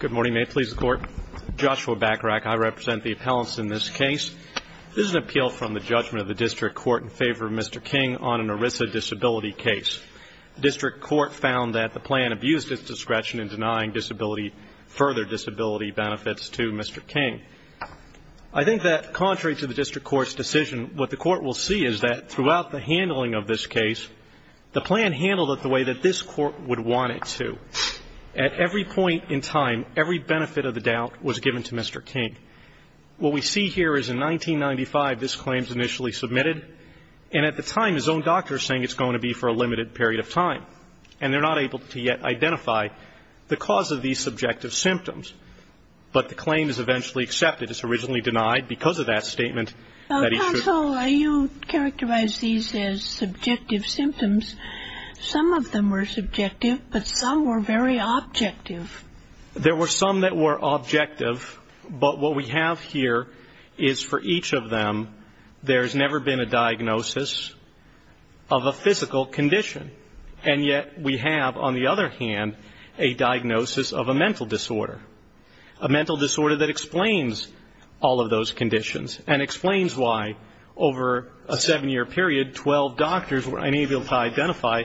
Good morning. May it please the Court. Joshua Bacharach. I represent the appellants in this case. This is an appeal from the judgment of the District Court in favor of Mr. King on an ERISA disability case. The District Court found that the plan abused its discretion in denying disability, further disability benefits to Mr. King. I think that contrary to the District Court's decision, what the Court will see is that throughout the handling of this case, the plan handled it the way that this Court would want it to. At every point in time, every benefit of the doubt was given to Mr. King. What we see here is in 1995, this claim is initially submitted. And at the time, his own doctor is saying it's going to be for a limited period of time. And they're not able to yet identify the cause of these subjective symptoms. But the claim is eventually accepted. It's originally denied because of that statement. Counsel, you characterize these as subjective symptoms. Some of them were subjective, but some were very objective. There were some that were objective, but what we have here is for each of them, there's never been a diagnosis of a physical condition. And yet we have, on the other hand, a diagnosis of a mental disorder, a mental disorder that explains all of those conditions and explains why over a seven-year period, 12 doctors were unable to identify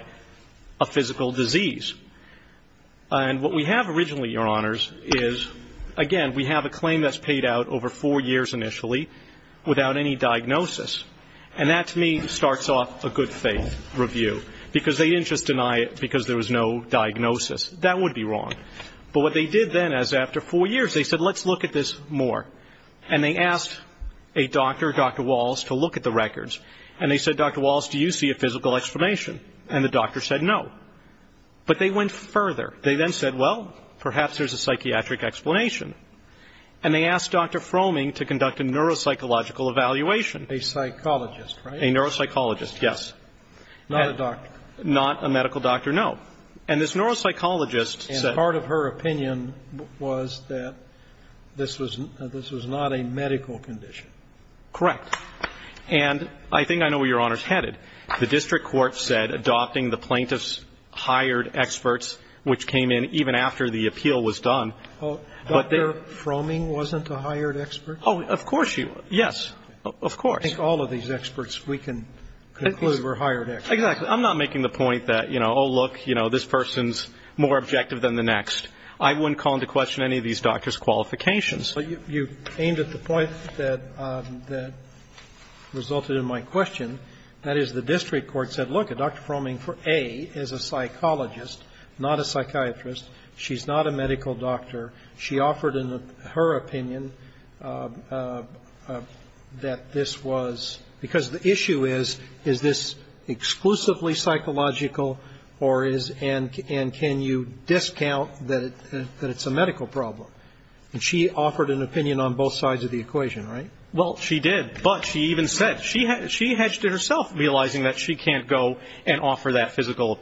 a physical disease. And what we have originally, Your Honors, is, again, we have a claim that's paid out over four years initially without any diagnosis. And that, to me, starts off a good-faith review because they didn't just deny it because there was no diagnosis. That would be wrong. But what they did then is after four years, they said, let's look at this more. And they asked a doctor, Dr. Wallace, to look at the records. And they said, Dr. Wallace, do you see a physical explanation? And the doctor said no. But they went further. They then said, well, perhaps there's a psychiatric explanation. And they asked Dr. Fromming to conduct a neuropsychological evaluation. A psychologist, right? A neuropsychologist, yes. Not a doctor. Not a medical doctor, no. And this neuropsychologist said – This was not a medical condition. Correct. And I think I know where Your Honors headed. The district court said adopting the plaintiff's hired experts, which came in even after the appeal was done. Dr. Fromming wasn't a hired expert? Oh, of course she was. Yes. Of course. I think all of these experts, we can conclude, were hired experts. Exactly. I'm not making the point that, you know, oh, look, you know, this person's more objective than the next. I wouldn't call into question any of these doctors' qualifications. But you aimed at the point that resulted in my question. That is, the district court said, look, Dr. Fromming, A, is a psychologist, not a psychiatrist. She's not a medical doctor. She offered in her opinion that this was – because the issue is, is this exclusively psychological or is – and can you discount that it's a medical problem? And she offered an opinion on both sides of the equation, right? Well, she did. But she even said – she hedged it herself, realizing that she can't go and offer that physical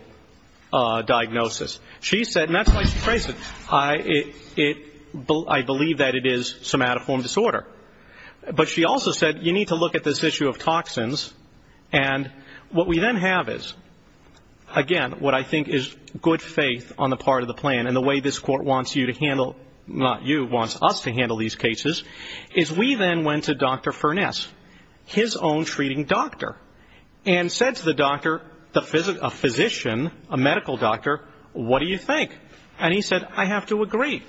diagnosis. She said – and that's why she traced it – I believe that it is somatoform disorder. But she also said you need to look at this issue of toxins. And what we then have is, again, what I think is good faith on the part of the plan and the way this court wants you to handle – not you – wants us to handle these cases is we then went to Dr. Furness, his own treating doctor, and said to the doctor, a physician, a medical doctor, what do you think? And he said, I have to agree.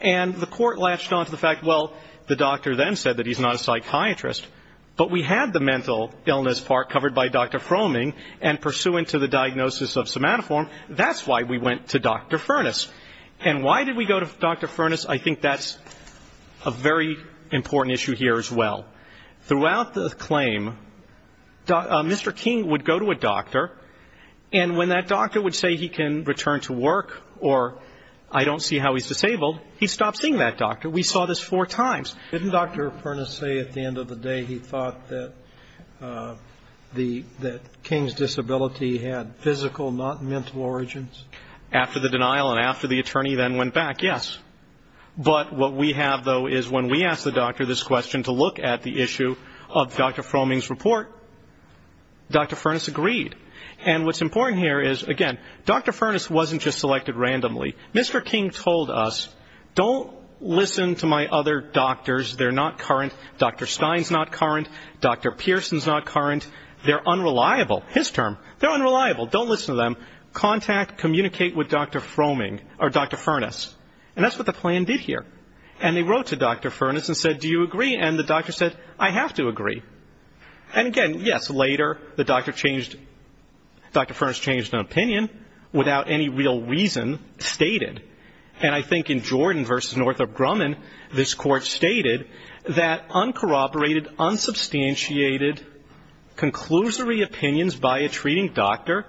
And the court latched on to the fact, well, the doctor then said that he's not a psychiatrist, but we had the mental illness part covered by Dr. Fromming and pursuant to the diagnosis of somatoform, that's why we went to Dr. Furness. And why did we go to Dr. Furness? I think that's a very important issue here as well. Throughout the claim, Mr. King would go to a doctor, and when that doctor would say he can return to work or I don't see how he's disabled, he stopped seeing that doctor. We saw this four times. Didn't Dr. Furness say at the end of the day he thought that King's disability had physical, not mental origins? After the denial and after the attorney then went back, yes. But what we have, though, is when we asked the doctor this question to look at the issue of Dr. Fromming's report, Dr. Furness agreed. And what's important here is, again, Dr. Furness wasn't just selected randomly. Mr. King told us, don't listen to my other doctors. They're not current. Dr. Stein's not current. Dr. Pearson's not current. They're unreliable, his term. They're unreliable. Don't listen to them. Contact, communicate with Dr. Fromming or Dr. Furness. And that's what the plan did here. And they wrote to Dr. Furness and said, do you agree? And the doctor said, I have to agree. And, again, yes, later the doctor changed Dr. Furness changed an opinion without any real reason stated. And I think in Jordan v. Northrop Grumman, this Court stated that uncorroborated, unsubstantiated, conclusory opinions by a treating doctor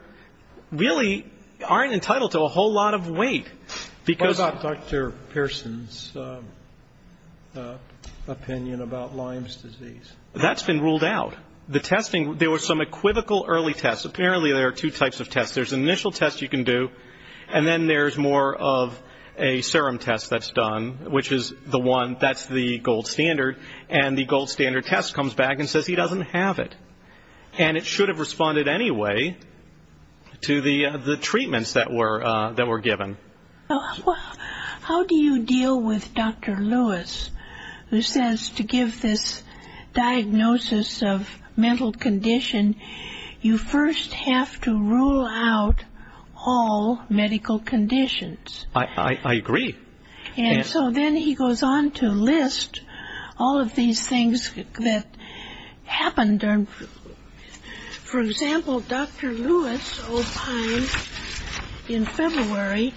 really aren't entitled to a whole lot of weight. Because of Dr. Pearson's opinion about Lyme's disease. That's been ruled out. The testing, there were some equivocal early tests. Apparently there are two types of tests. There's an initial test you can do, and then there's more of a serum test that's done, which is the one, that's the gold standard, and the gold standard test comes back and says he doesn't have it. And it should have responded anyway to the treatments that were given. How do you deal with Dr. Lewis, who says to give this diagnosis of mental condition, you first have to rule out all medical conditions? I agree. And so then he goes on to list all of these things that happened. For example, Dr. Lewis opined in February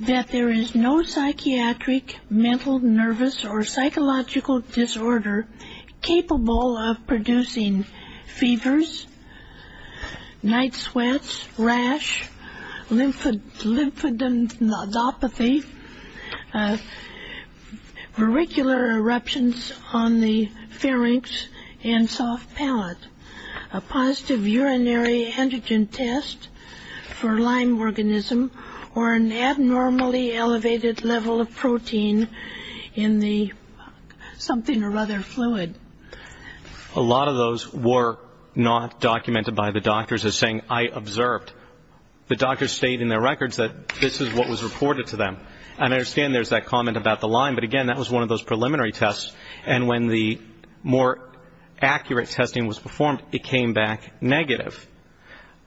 that there is no psychiatric, mental, nervous, or psychological disorder capable of producing fevers, night sweats, rash, lymphadenopathy, auricular eruptions on the pharynx and soft palate, a positive urinary antigen test for Lyme organism, or an abnormally elevated level of protein in something or other fluid. A lot of those were not documented by the doctors as saying, I observed. The doctors stated in their records that this is what was reported to them. And I understand there's that comment about the Lyme, but again, that was one of those preliminary tests. And when the more accurate testing was performed, it came back negative.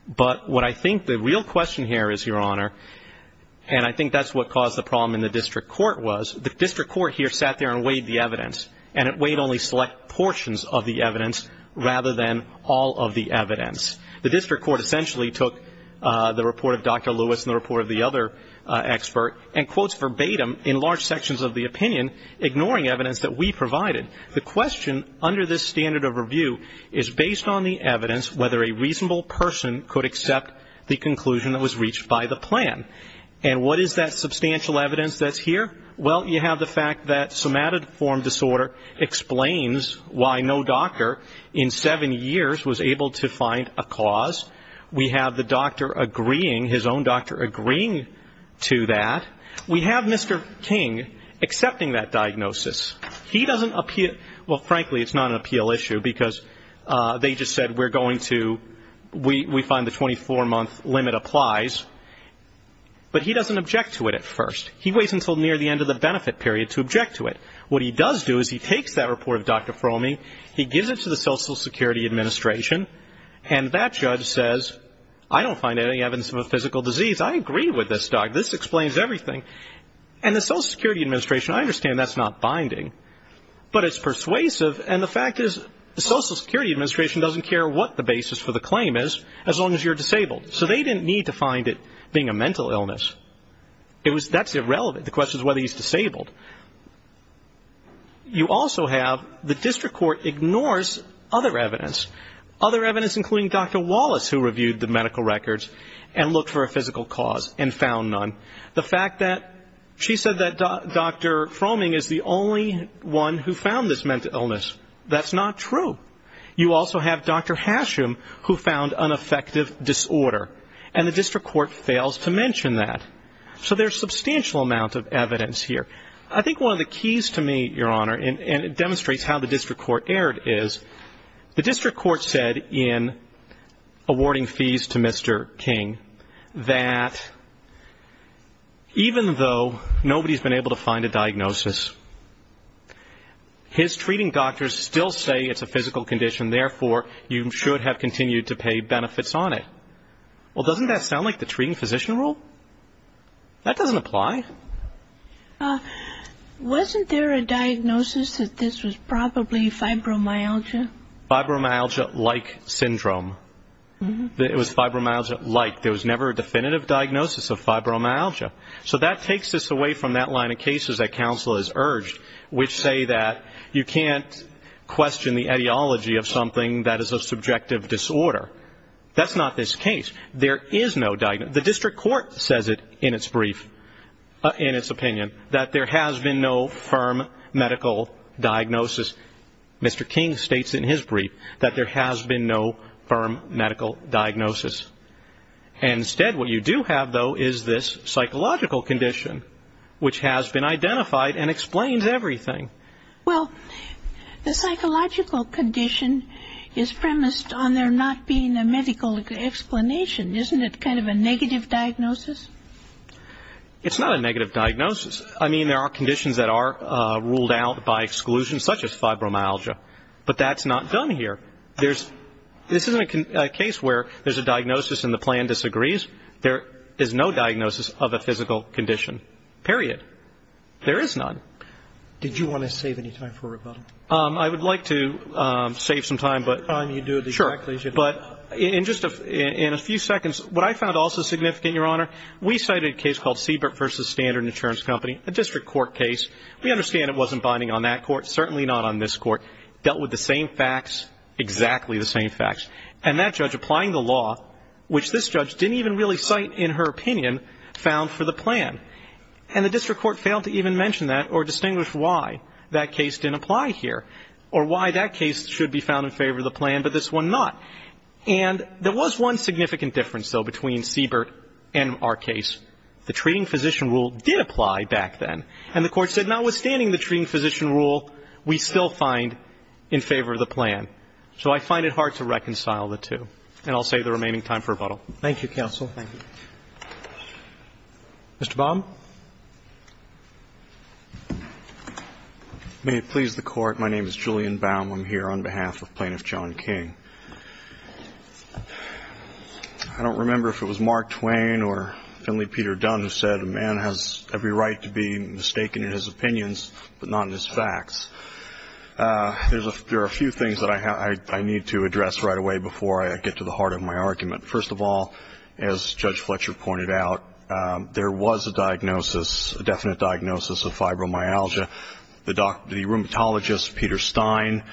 But what I think the real question here is, Your Honor, and I think that's what caused the problem in the district court was, the district court here sat there and weighed the evidence, and it weighed only select portions of the evidence rather than all of the evidence. The district court essentially took the report of Dr. Lewis and the report of the other expert and quotes verbatim in large sections of the opinion, ignoring evidence that we provided. The question under this standard of review is based on the evidence whether a reasonable person could accept the conclusion that was reached by the plan. And what is that substantial evidence that's here? Well, you have the fact that somatoform disorder explains why no doctor in seven years was able to find a cause. We have the doctor agreeing, his own doctor agreeing to that. We have Mr. King accepting that diagnosis. He doesn't appeal to it. Well, frankly, it's not an appeal issue because they just said we're going to, we find the 24-month limit applies. But he doesn't object to it at first. He waits until near the end of the benefit period to object to it. What he does do is he takes that report of Dr. Fromey, he gives it to the Social Security Administration, and that judge says, I don't find any evidence of a physical disease. I agree with this doc. This explains everything. And the Social Security Administration, I understand that's not binding, but it's persuasive, and the fact is the Social Security Administration doesn't care what the basis for the claim is as long as you're disabled. So they didn't need to find it being a mental illness. That's irrelevant. The question is whether he's disabled. You also have the district court ignores other evidence, other evidence including Dr. Wallace, who reviewed the medical records and looked for a physical cause and found none. The fact that she said that Dr. Fromey is the only one who found this mental illness, that's not true. You also have Dr. Hasham, who found an affective disorder, and the district court fails to mention that. So there's substantial amount of evidence here. I think one of the keys to me, Your Honor, and it demonstrates how the district court erred, is the district court said in awarding fees to Mr. King that even though nobody's been able to find a diagnosis, his treating doctors still say it's a physical condition, therefore you should have continued to pay benefits on it. Well, doesn't that sound like the treating physician rule? That doesn't apply. Wasn't there a diagnosis that this was probably fibromyalgia? Fibromyalgia-like syndrome. It was fibromyalgia-like. There was never a definitive diagnosis of fibromyalgia. So that takes us away from that line of cases that counsel has urged, which say that you can't question the ideology of something that is a subjective disorder. That's not this case. There is no diagnosis. The district court says it in its brief, in its opinion, that there has been no firm medical diagnosis. Mr. King states in his brief that there has been no firm medical diagnosis. Instead, what you do have, though, is this psychological condition, which has been identified and explains everything. Well, the psychological condition is premised on there not being a medical explanation. Isn't it kind of a negative diagnosis? It's not a negative diagnosis. I mean, there are conditions that are ruled out by exclusion, such as fibromyalgia. But that's not done here. This isn't a case where there's a diagnosis and the plan disagrees. There is no diagnosis of a physical condition, period. There is none. Did you want to save any time for rebuttal? I would like to save some time. Sure. But in just a few seconds, what I found also significant, Your Honor, we cited a case called Siebert v. Standard & Insurance Company, a district court case. We understand it wasn't binding on that court, certainly not on this court. Dealt with the same facts, exactly the same facts. And that judge applying the law, which this judge didn't even really cite in her opinion, found for the plan. And the district court failed to even mention that or distinguish why that case didn't apply here or why that case should be found in favor of the plan, but this one not. And there was one significant difference, though, between Siebert and our case. The treating physician rule did apply back then. And the court said notwithstanding the treating physician rule, we still find in favor of the plan. So I find it hard to reconcile the two. And I'll save the remaining time for rebuttal. Thank you, counsel. Thank you. Mr. Baum. May it please the Court. My name is Julian Baum. I'm here on behalf of Plaintiff John King. I don't remember if it was Mark Twain or Finley Peter Dunn who said, a man has every right to be mistaken in his opinions but not in his facts. There are a few things that I need to address right away before I get to the heart of my argument. First of all, as Judge Fletcher pointed out, there was a diagnosis, a definite diagnosis of fibromyalgia. The rheumatologist Peter Stein,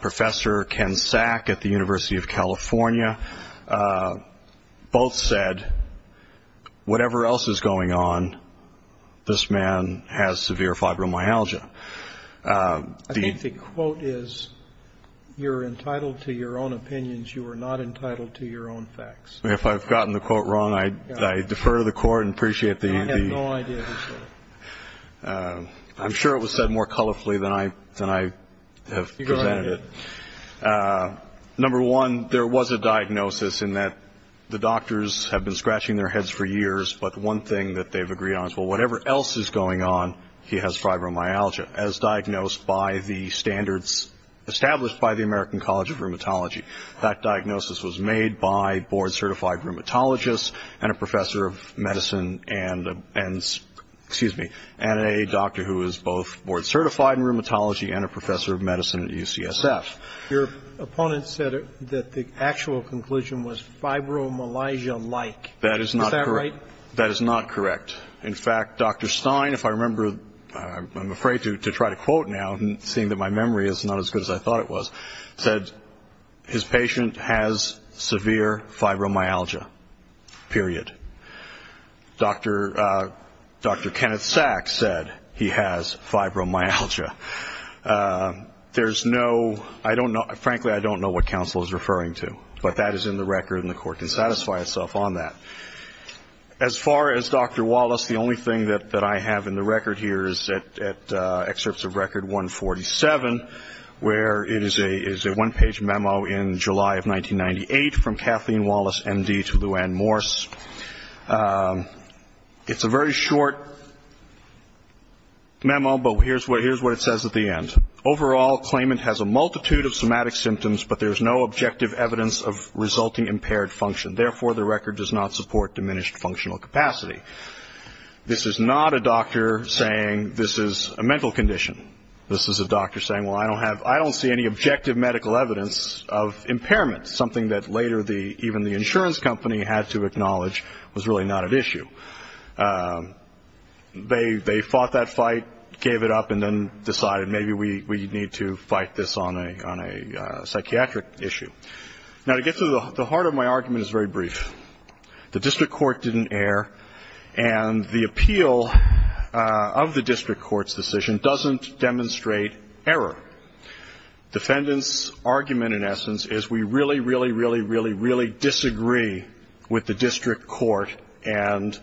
Professor Ken Sack at the University of California, both said, whatever else is going on, this man has severe fibromyalgia. I think the quote is, you're entitled to your own opinions. You are not entitled to your own facts. If I've gotten the quote wrong, I defer to the Court and appreciate the ---- I have no idea who said it. I'm sure it was said more colorfully than I have presented it. Go ahead. Number one, there was a diagnosis in that the doctors have been scratching their heads for years, but one thing that they've agreed on is, well, whatever else is going on, he has fibromyalgia, as diagnosed by the standards established by the American College of Rheumatology. That diagnosis was made by board-certified rheumatologists and a professor of medicine and a doctor who is both board-certified in rheumatology and a professor of medicine at UCSF. Your opponent said that the actual conclusion was fibromyalgia-like. Is that right? That is not correct. In fact, Dr. Stein, if I remember, I'm afraid to try to quote now, seeing that my memory is not as good as I thought it was, said, his patient has severe fibromyalgia, period. Dr. Kenneth Sachs said he has fibromyalgia. Frankly, I don't know what counsel is referring to, but that is in the record, and the Court can satisfy itself on that. As far as Dr. Wallace, the only thing that I have in the record here is at Excerpts of Record 147, where it is a one-page memo in July of 1998 from Kathleen Wallace, M.D., to Lou Anne Morse. It's a very short memo, but here's what it says at the end. Overall, claimant has a multitude of somatic symptoms, but there is no objective evidence of resulting impaired function. Therefore, the record does not support diminished functional capacity. This is not a doctor saying this is a mental condition. This is a doctor saying, well, I don't see any objective medical evidence of impairment, something that later even the insurance company had to acknowledge was really not at issue. They fought that fight, gave it up, and then decided maybe we need to fight this on a psychiatric issue. Now, to get to the heart of my argument is very brief. The district court didn't err, and the appeal of the district court's decision doesn't demonstrate error. Defendant's argument, in essence, is we really, really, really, really, really disagree with the district court and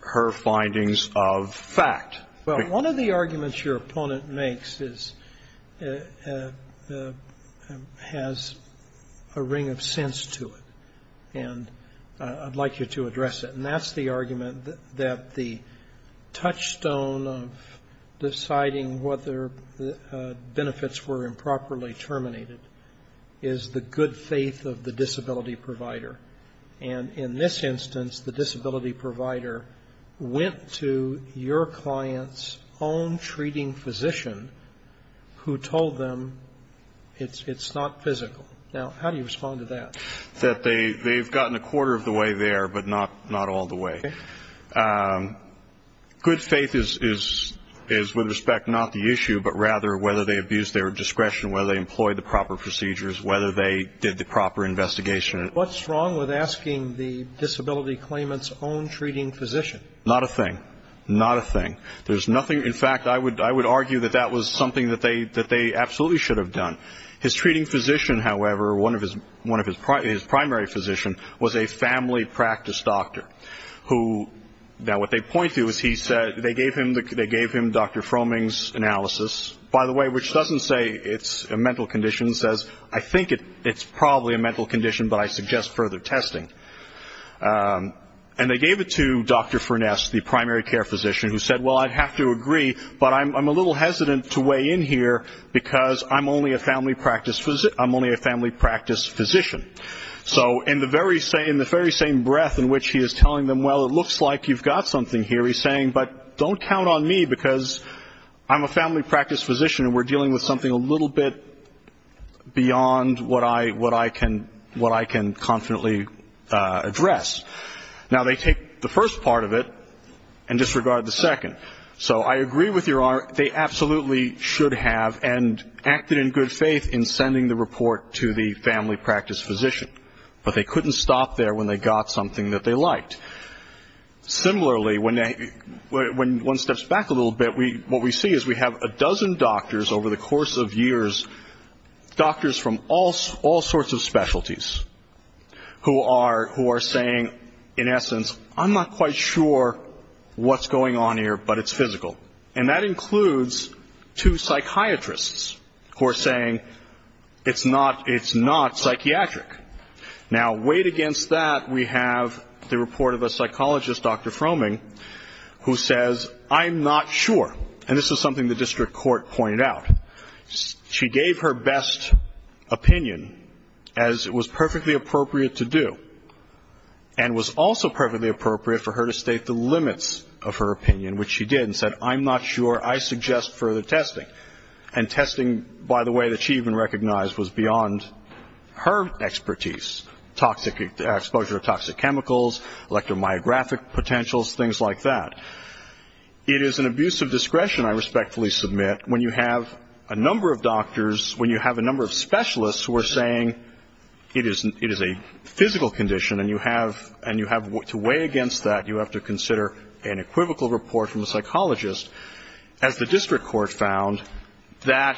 her findings of fact. Well, one of the arguments your opponent makes has a ring of sense to it, and I'd like you to address it. And that's the argument that the touchstone of deciding whether benefits were improperly terminated is the good faith of the disability provider. And in this instance, the disability provider went to your client's own treating physician who told them it's not physical. Now, how do you respond to that? That they've gotten a quarter of the way there, but not all the way. Good faith is, with respect, not the issue, but rather whether they abused their discretion, whether they employed the proper procedures, whether they did the proper investigation. What's wrong with asking the disability claimant's own treating physician? Not a thing. Not a thing. There's nothing. In fact, I would argue that that was something that they absolutely should have done. His treating physician, however, one of his primary physicians was a family practice doctor. Now, what they point to is they gave him Dr. Fromming's analysis, by the way, which doesn't say it's a mental condition. It says, I think it's probably a mental condition, but I suggest further testing. And they gave it to Dr. Furness, the primary care physician, who said, well, I'd have to agree, but I'm a little hesitant to weigh in here because I'm only a family practice physician. So in the very same breath in which he is telling them, well, it looks like you've got something here, he's saying, but don't count on me because I'm a family practice physician and we're dealing with something a little bit beyond what I can confidently address. Now, they take the first part of it and disregard the second. So I agree with Your Honor, they absolutely should have, and acted in good faith in sending the report to the family practice physician. But they couldn't stop there when they got something that they liked. Similarly, when one steps back a little bit, what we see is we have a dozen doctors over the course of years, doctors from all sorts of specialties, who are saying, in essence, I'm not quite sure what's going on here, but it's physical. And that includes two psychiatrists who are saying it's not psychiatric. Now, weighed against that, we have the report of a psychologist, Dr. Fromming, who says, I'm not sure. And this is something the district court pointed out. She gave her best opinion, as it was perfectly appropriate to do, and was also perfectly appropriate for her to state the limits of her opinion, which she did, and said, I'm not sure, I suggest further testing. And testing, by the way, that she even recognized was beyond her expertise, exposure to toxic chemicals, electromyographic potentials, things like that. It is an abuse of discretion, I respectfully submit, when you have a number of doctors, when you have a number of specialists who are saying it is a physical condition, and you have to weigh against that, you have to consider an equivocal report from a psychologist. As the district court found, that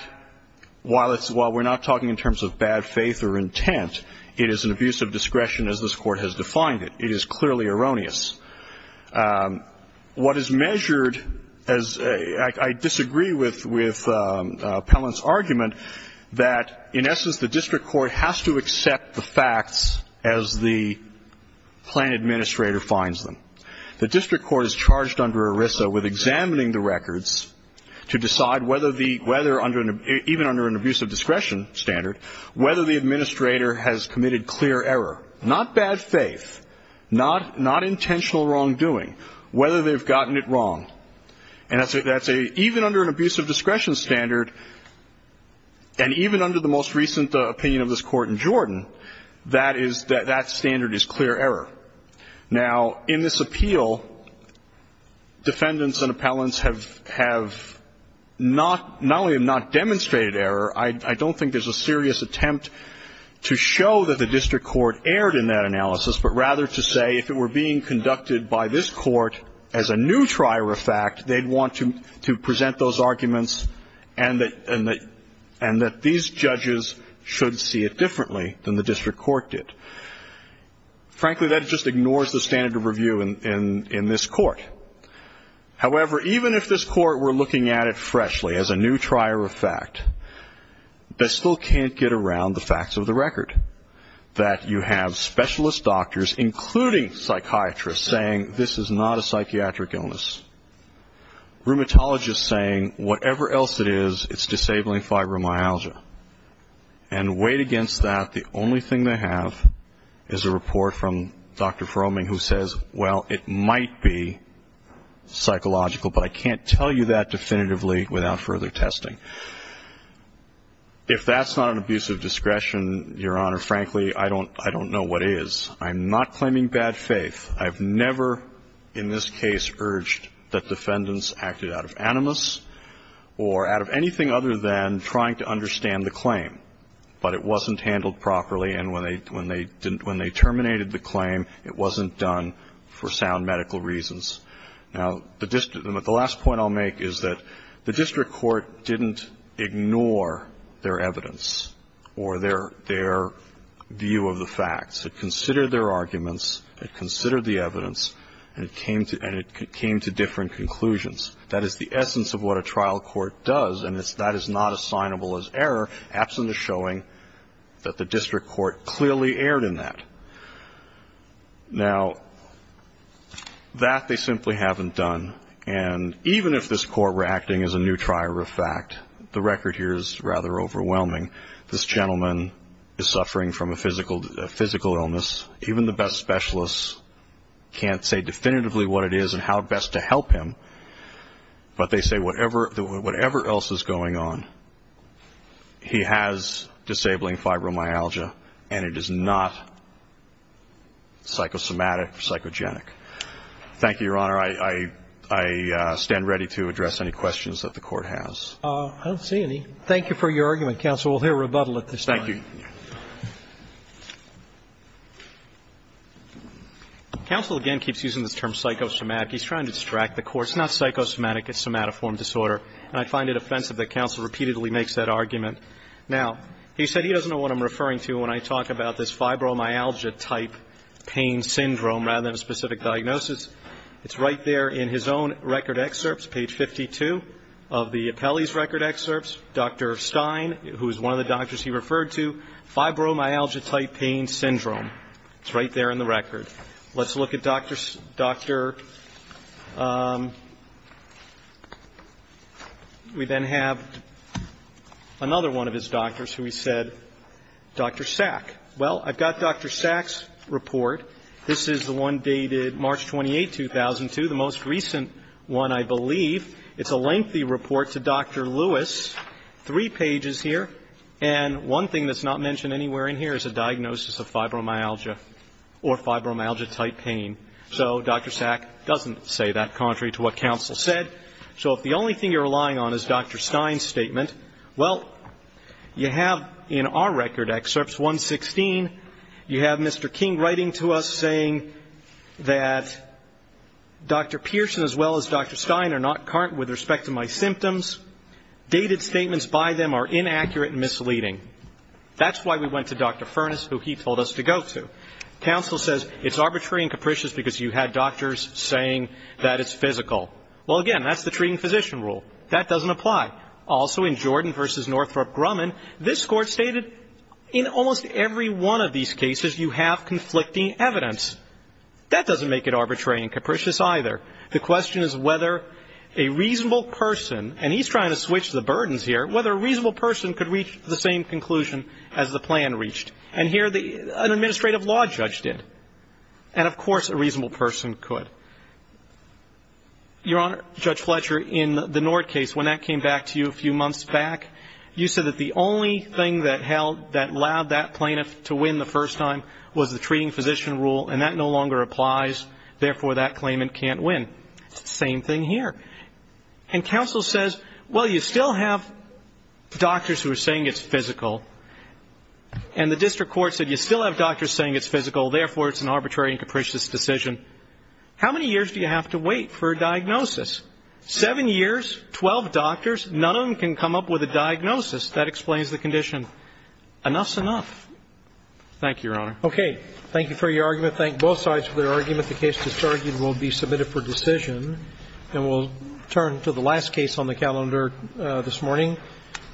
while we're not talking in terms of bad faith or intent, it is an abuse of discretion as this court has defined it. It is clearly erroneous. What is measured, as I disagree with Pellant's argument, that in essence the district court has to accept the facts as the plan administrator finds them. The district court is charged under ERISA with examining the records to decide whether the, even under an abuse of discretion standard, whether the administrator has committed clear error, not bad faith, not intentional wrongdoing, whether they've gotten it wrong. And that's a, even under an abuse of discretion standard, and even under the most recent opinion of this court in Jordan, that is, that standard is clear error. Now, in this appeal, defendants and appellants have not, not only have not demonstrated error, I don't think there's a serious attempt to show that the district court erred in that analysis, but rather to say if it were being conducted by this court as a new trier of fact, they'd want to present those arguments and that these judges should see it differently than the district court did. Frankly, that just ignores the standard of review in this court. However, even if this court were looking at it freshly as a new trier of fact, they still can't get around the facts of the record, that you have specialist doctors, including psychiatrists, saying this is not a psychiatric illness, rheumatologists saying whatever else it is, it's disabling fibromyalgia, and weighed against that, the only thing they have is a report from Dr. Fromming who says, well, it might be psychological, but I can't tell you that definitively without further testing. If that's not an abuse of discretion, Your Honor, frankly, I don't know what is. I'm not claiming bad faith. I've never in this case urged that defendants acted out of animus or out of anything other than trying to understand the claim, but it wasn't handled properly, and when they terminated the claim, it wasn't done for sound medical reasons. Now, the last point I'll make is that the district court didn't ignore their evidence or their view of the facts. It considered their arguments, it considered the evidence, and it came to different conclusions. That is the essence of what a trial court does, and that is not assignable as error, absent of showing that the district court clearly erred in that. Now, that they simply haven't done, and even if this court were acting as a new trier of fact, the record here is rather overwhelming. This gentleman is suffering from a physical illness. Even the best specialists can't say definitively what it is and how best to help him, but they say whatever else is going on, he has disabling fibromyalgia, and it is not psychosomatic or psychogenic. Thank you, Your Honor. I stand ready to address any questions that the court has. I don't see any. Thank you for your argument, counsel. We'll hear rebuttal at this time. Thank you. Counsel again keeps using the term psychosomatic. He's trying to distract the court. It's not psychosomatic. It's somatoform disorder, and I find it offensive that counsel repeatedly makes that argument. Now, he said he doesn't know what I'm referring to when I talk about this fibromyalgia-type pain syndrome rather than a specific diagnosis. It's right there in his own record excerpts, page 52 of the appellee's record excerpts. Dr. Stein, who is one of the doctors he referred to, fibromyalgia-type pain syndrome. It's right there in the record. Let's look at Dr. We then have another one of his doctors who he said, Dr. Sack. Well, I've got Dr. Sack's report. This is the one dated March 28, 2002, the most recent one, I believe. It's a lengthy report to Dr. Lewis, three pages here, and one thing that's not mentioned anywhere in here is a diagnosis of fibromyalgia or fibromyalgia-type pain. So Dr. Sack doesn't say that, contrary to what counsel said. So if the only thing you're relying on is Dr. Stein's statement, well, you have in our record excerpts, 116, you have Mr. King writing to us saying that Dr. Pearson as well as Dr. Stein are not current with respect to my symptoms. Dated statements by them are inaccurate and misleading. That's why we went to Dr. Furness, who he told us to go to. Counsel says it's arbitrary and capricious because you had doctors saying that it's physical. Well, again, that's the treating physician rule. That doesn't apply. Also in Jordan v. Northrop Grumman, this Court stated in almost every one of these cases you have conflicting evidence. That doesn't make it arbitrary and capricious either. The question is whether a reasonable person, and he's trying to switch the burdens here, whether a reasonable person could reach the same conclusion as the plan reached. And here an administrative law judge did. And, of course, a reasonable person could. Your Honor, Judge Fletcher, in the Nord case, when that came back to you a few months back, you said that the only thing that allowed that plaintiff to win the first time was the treating physician rule, and that no longer applies, therefore that claimant can't win. It's the same thing here. And counsel says, well, you still have doctors who are saying it's physical, and the district court said you still have doctors saying it's physical, therefore it's an arbitrary and capricious decision. How many years do you have to wait for a diagnosis? Seven years, 12 doctors, none of them can come up with a diagnosis. That explains the condition. Enough's enough. Thank you, Your Honor. Okay. Thank you for your argument. Thank both sides for their argument. The case disargued will be submitted for decision. And we'll turn to the last case on the calendar this morning,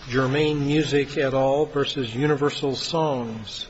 Germain Music et al. v. Universal Songs.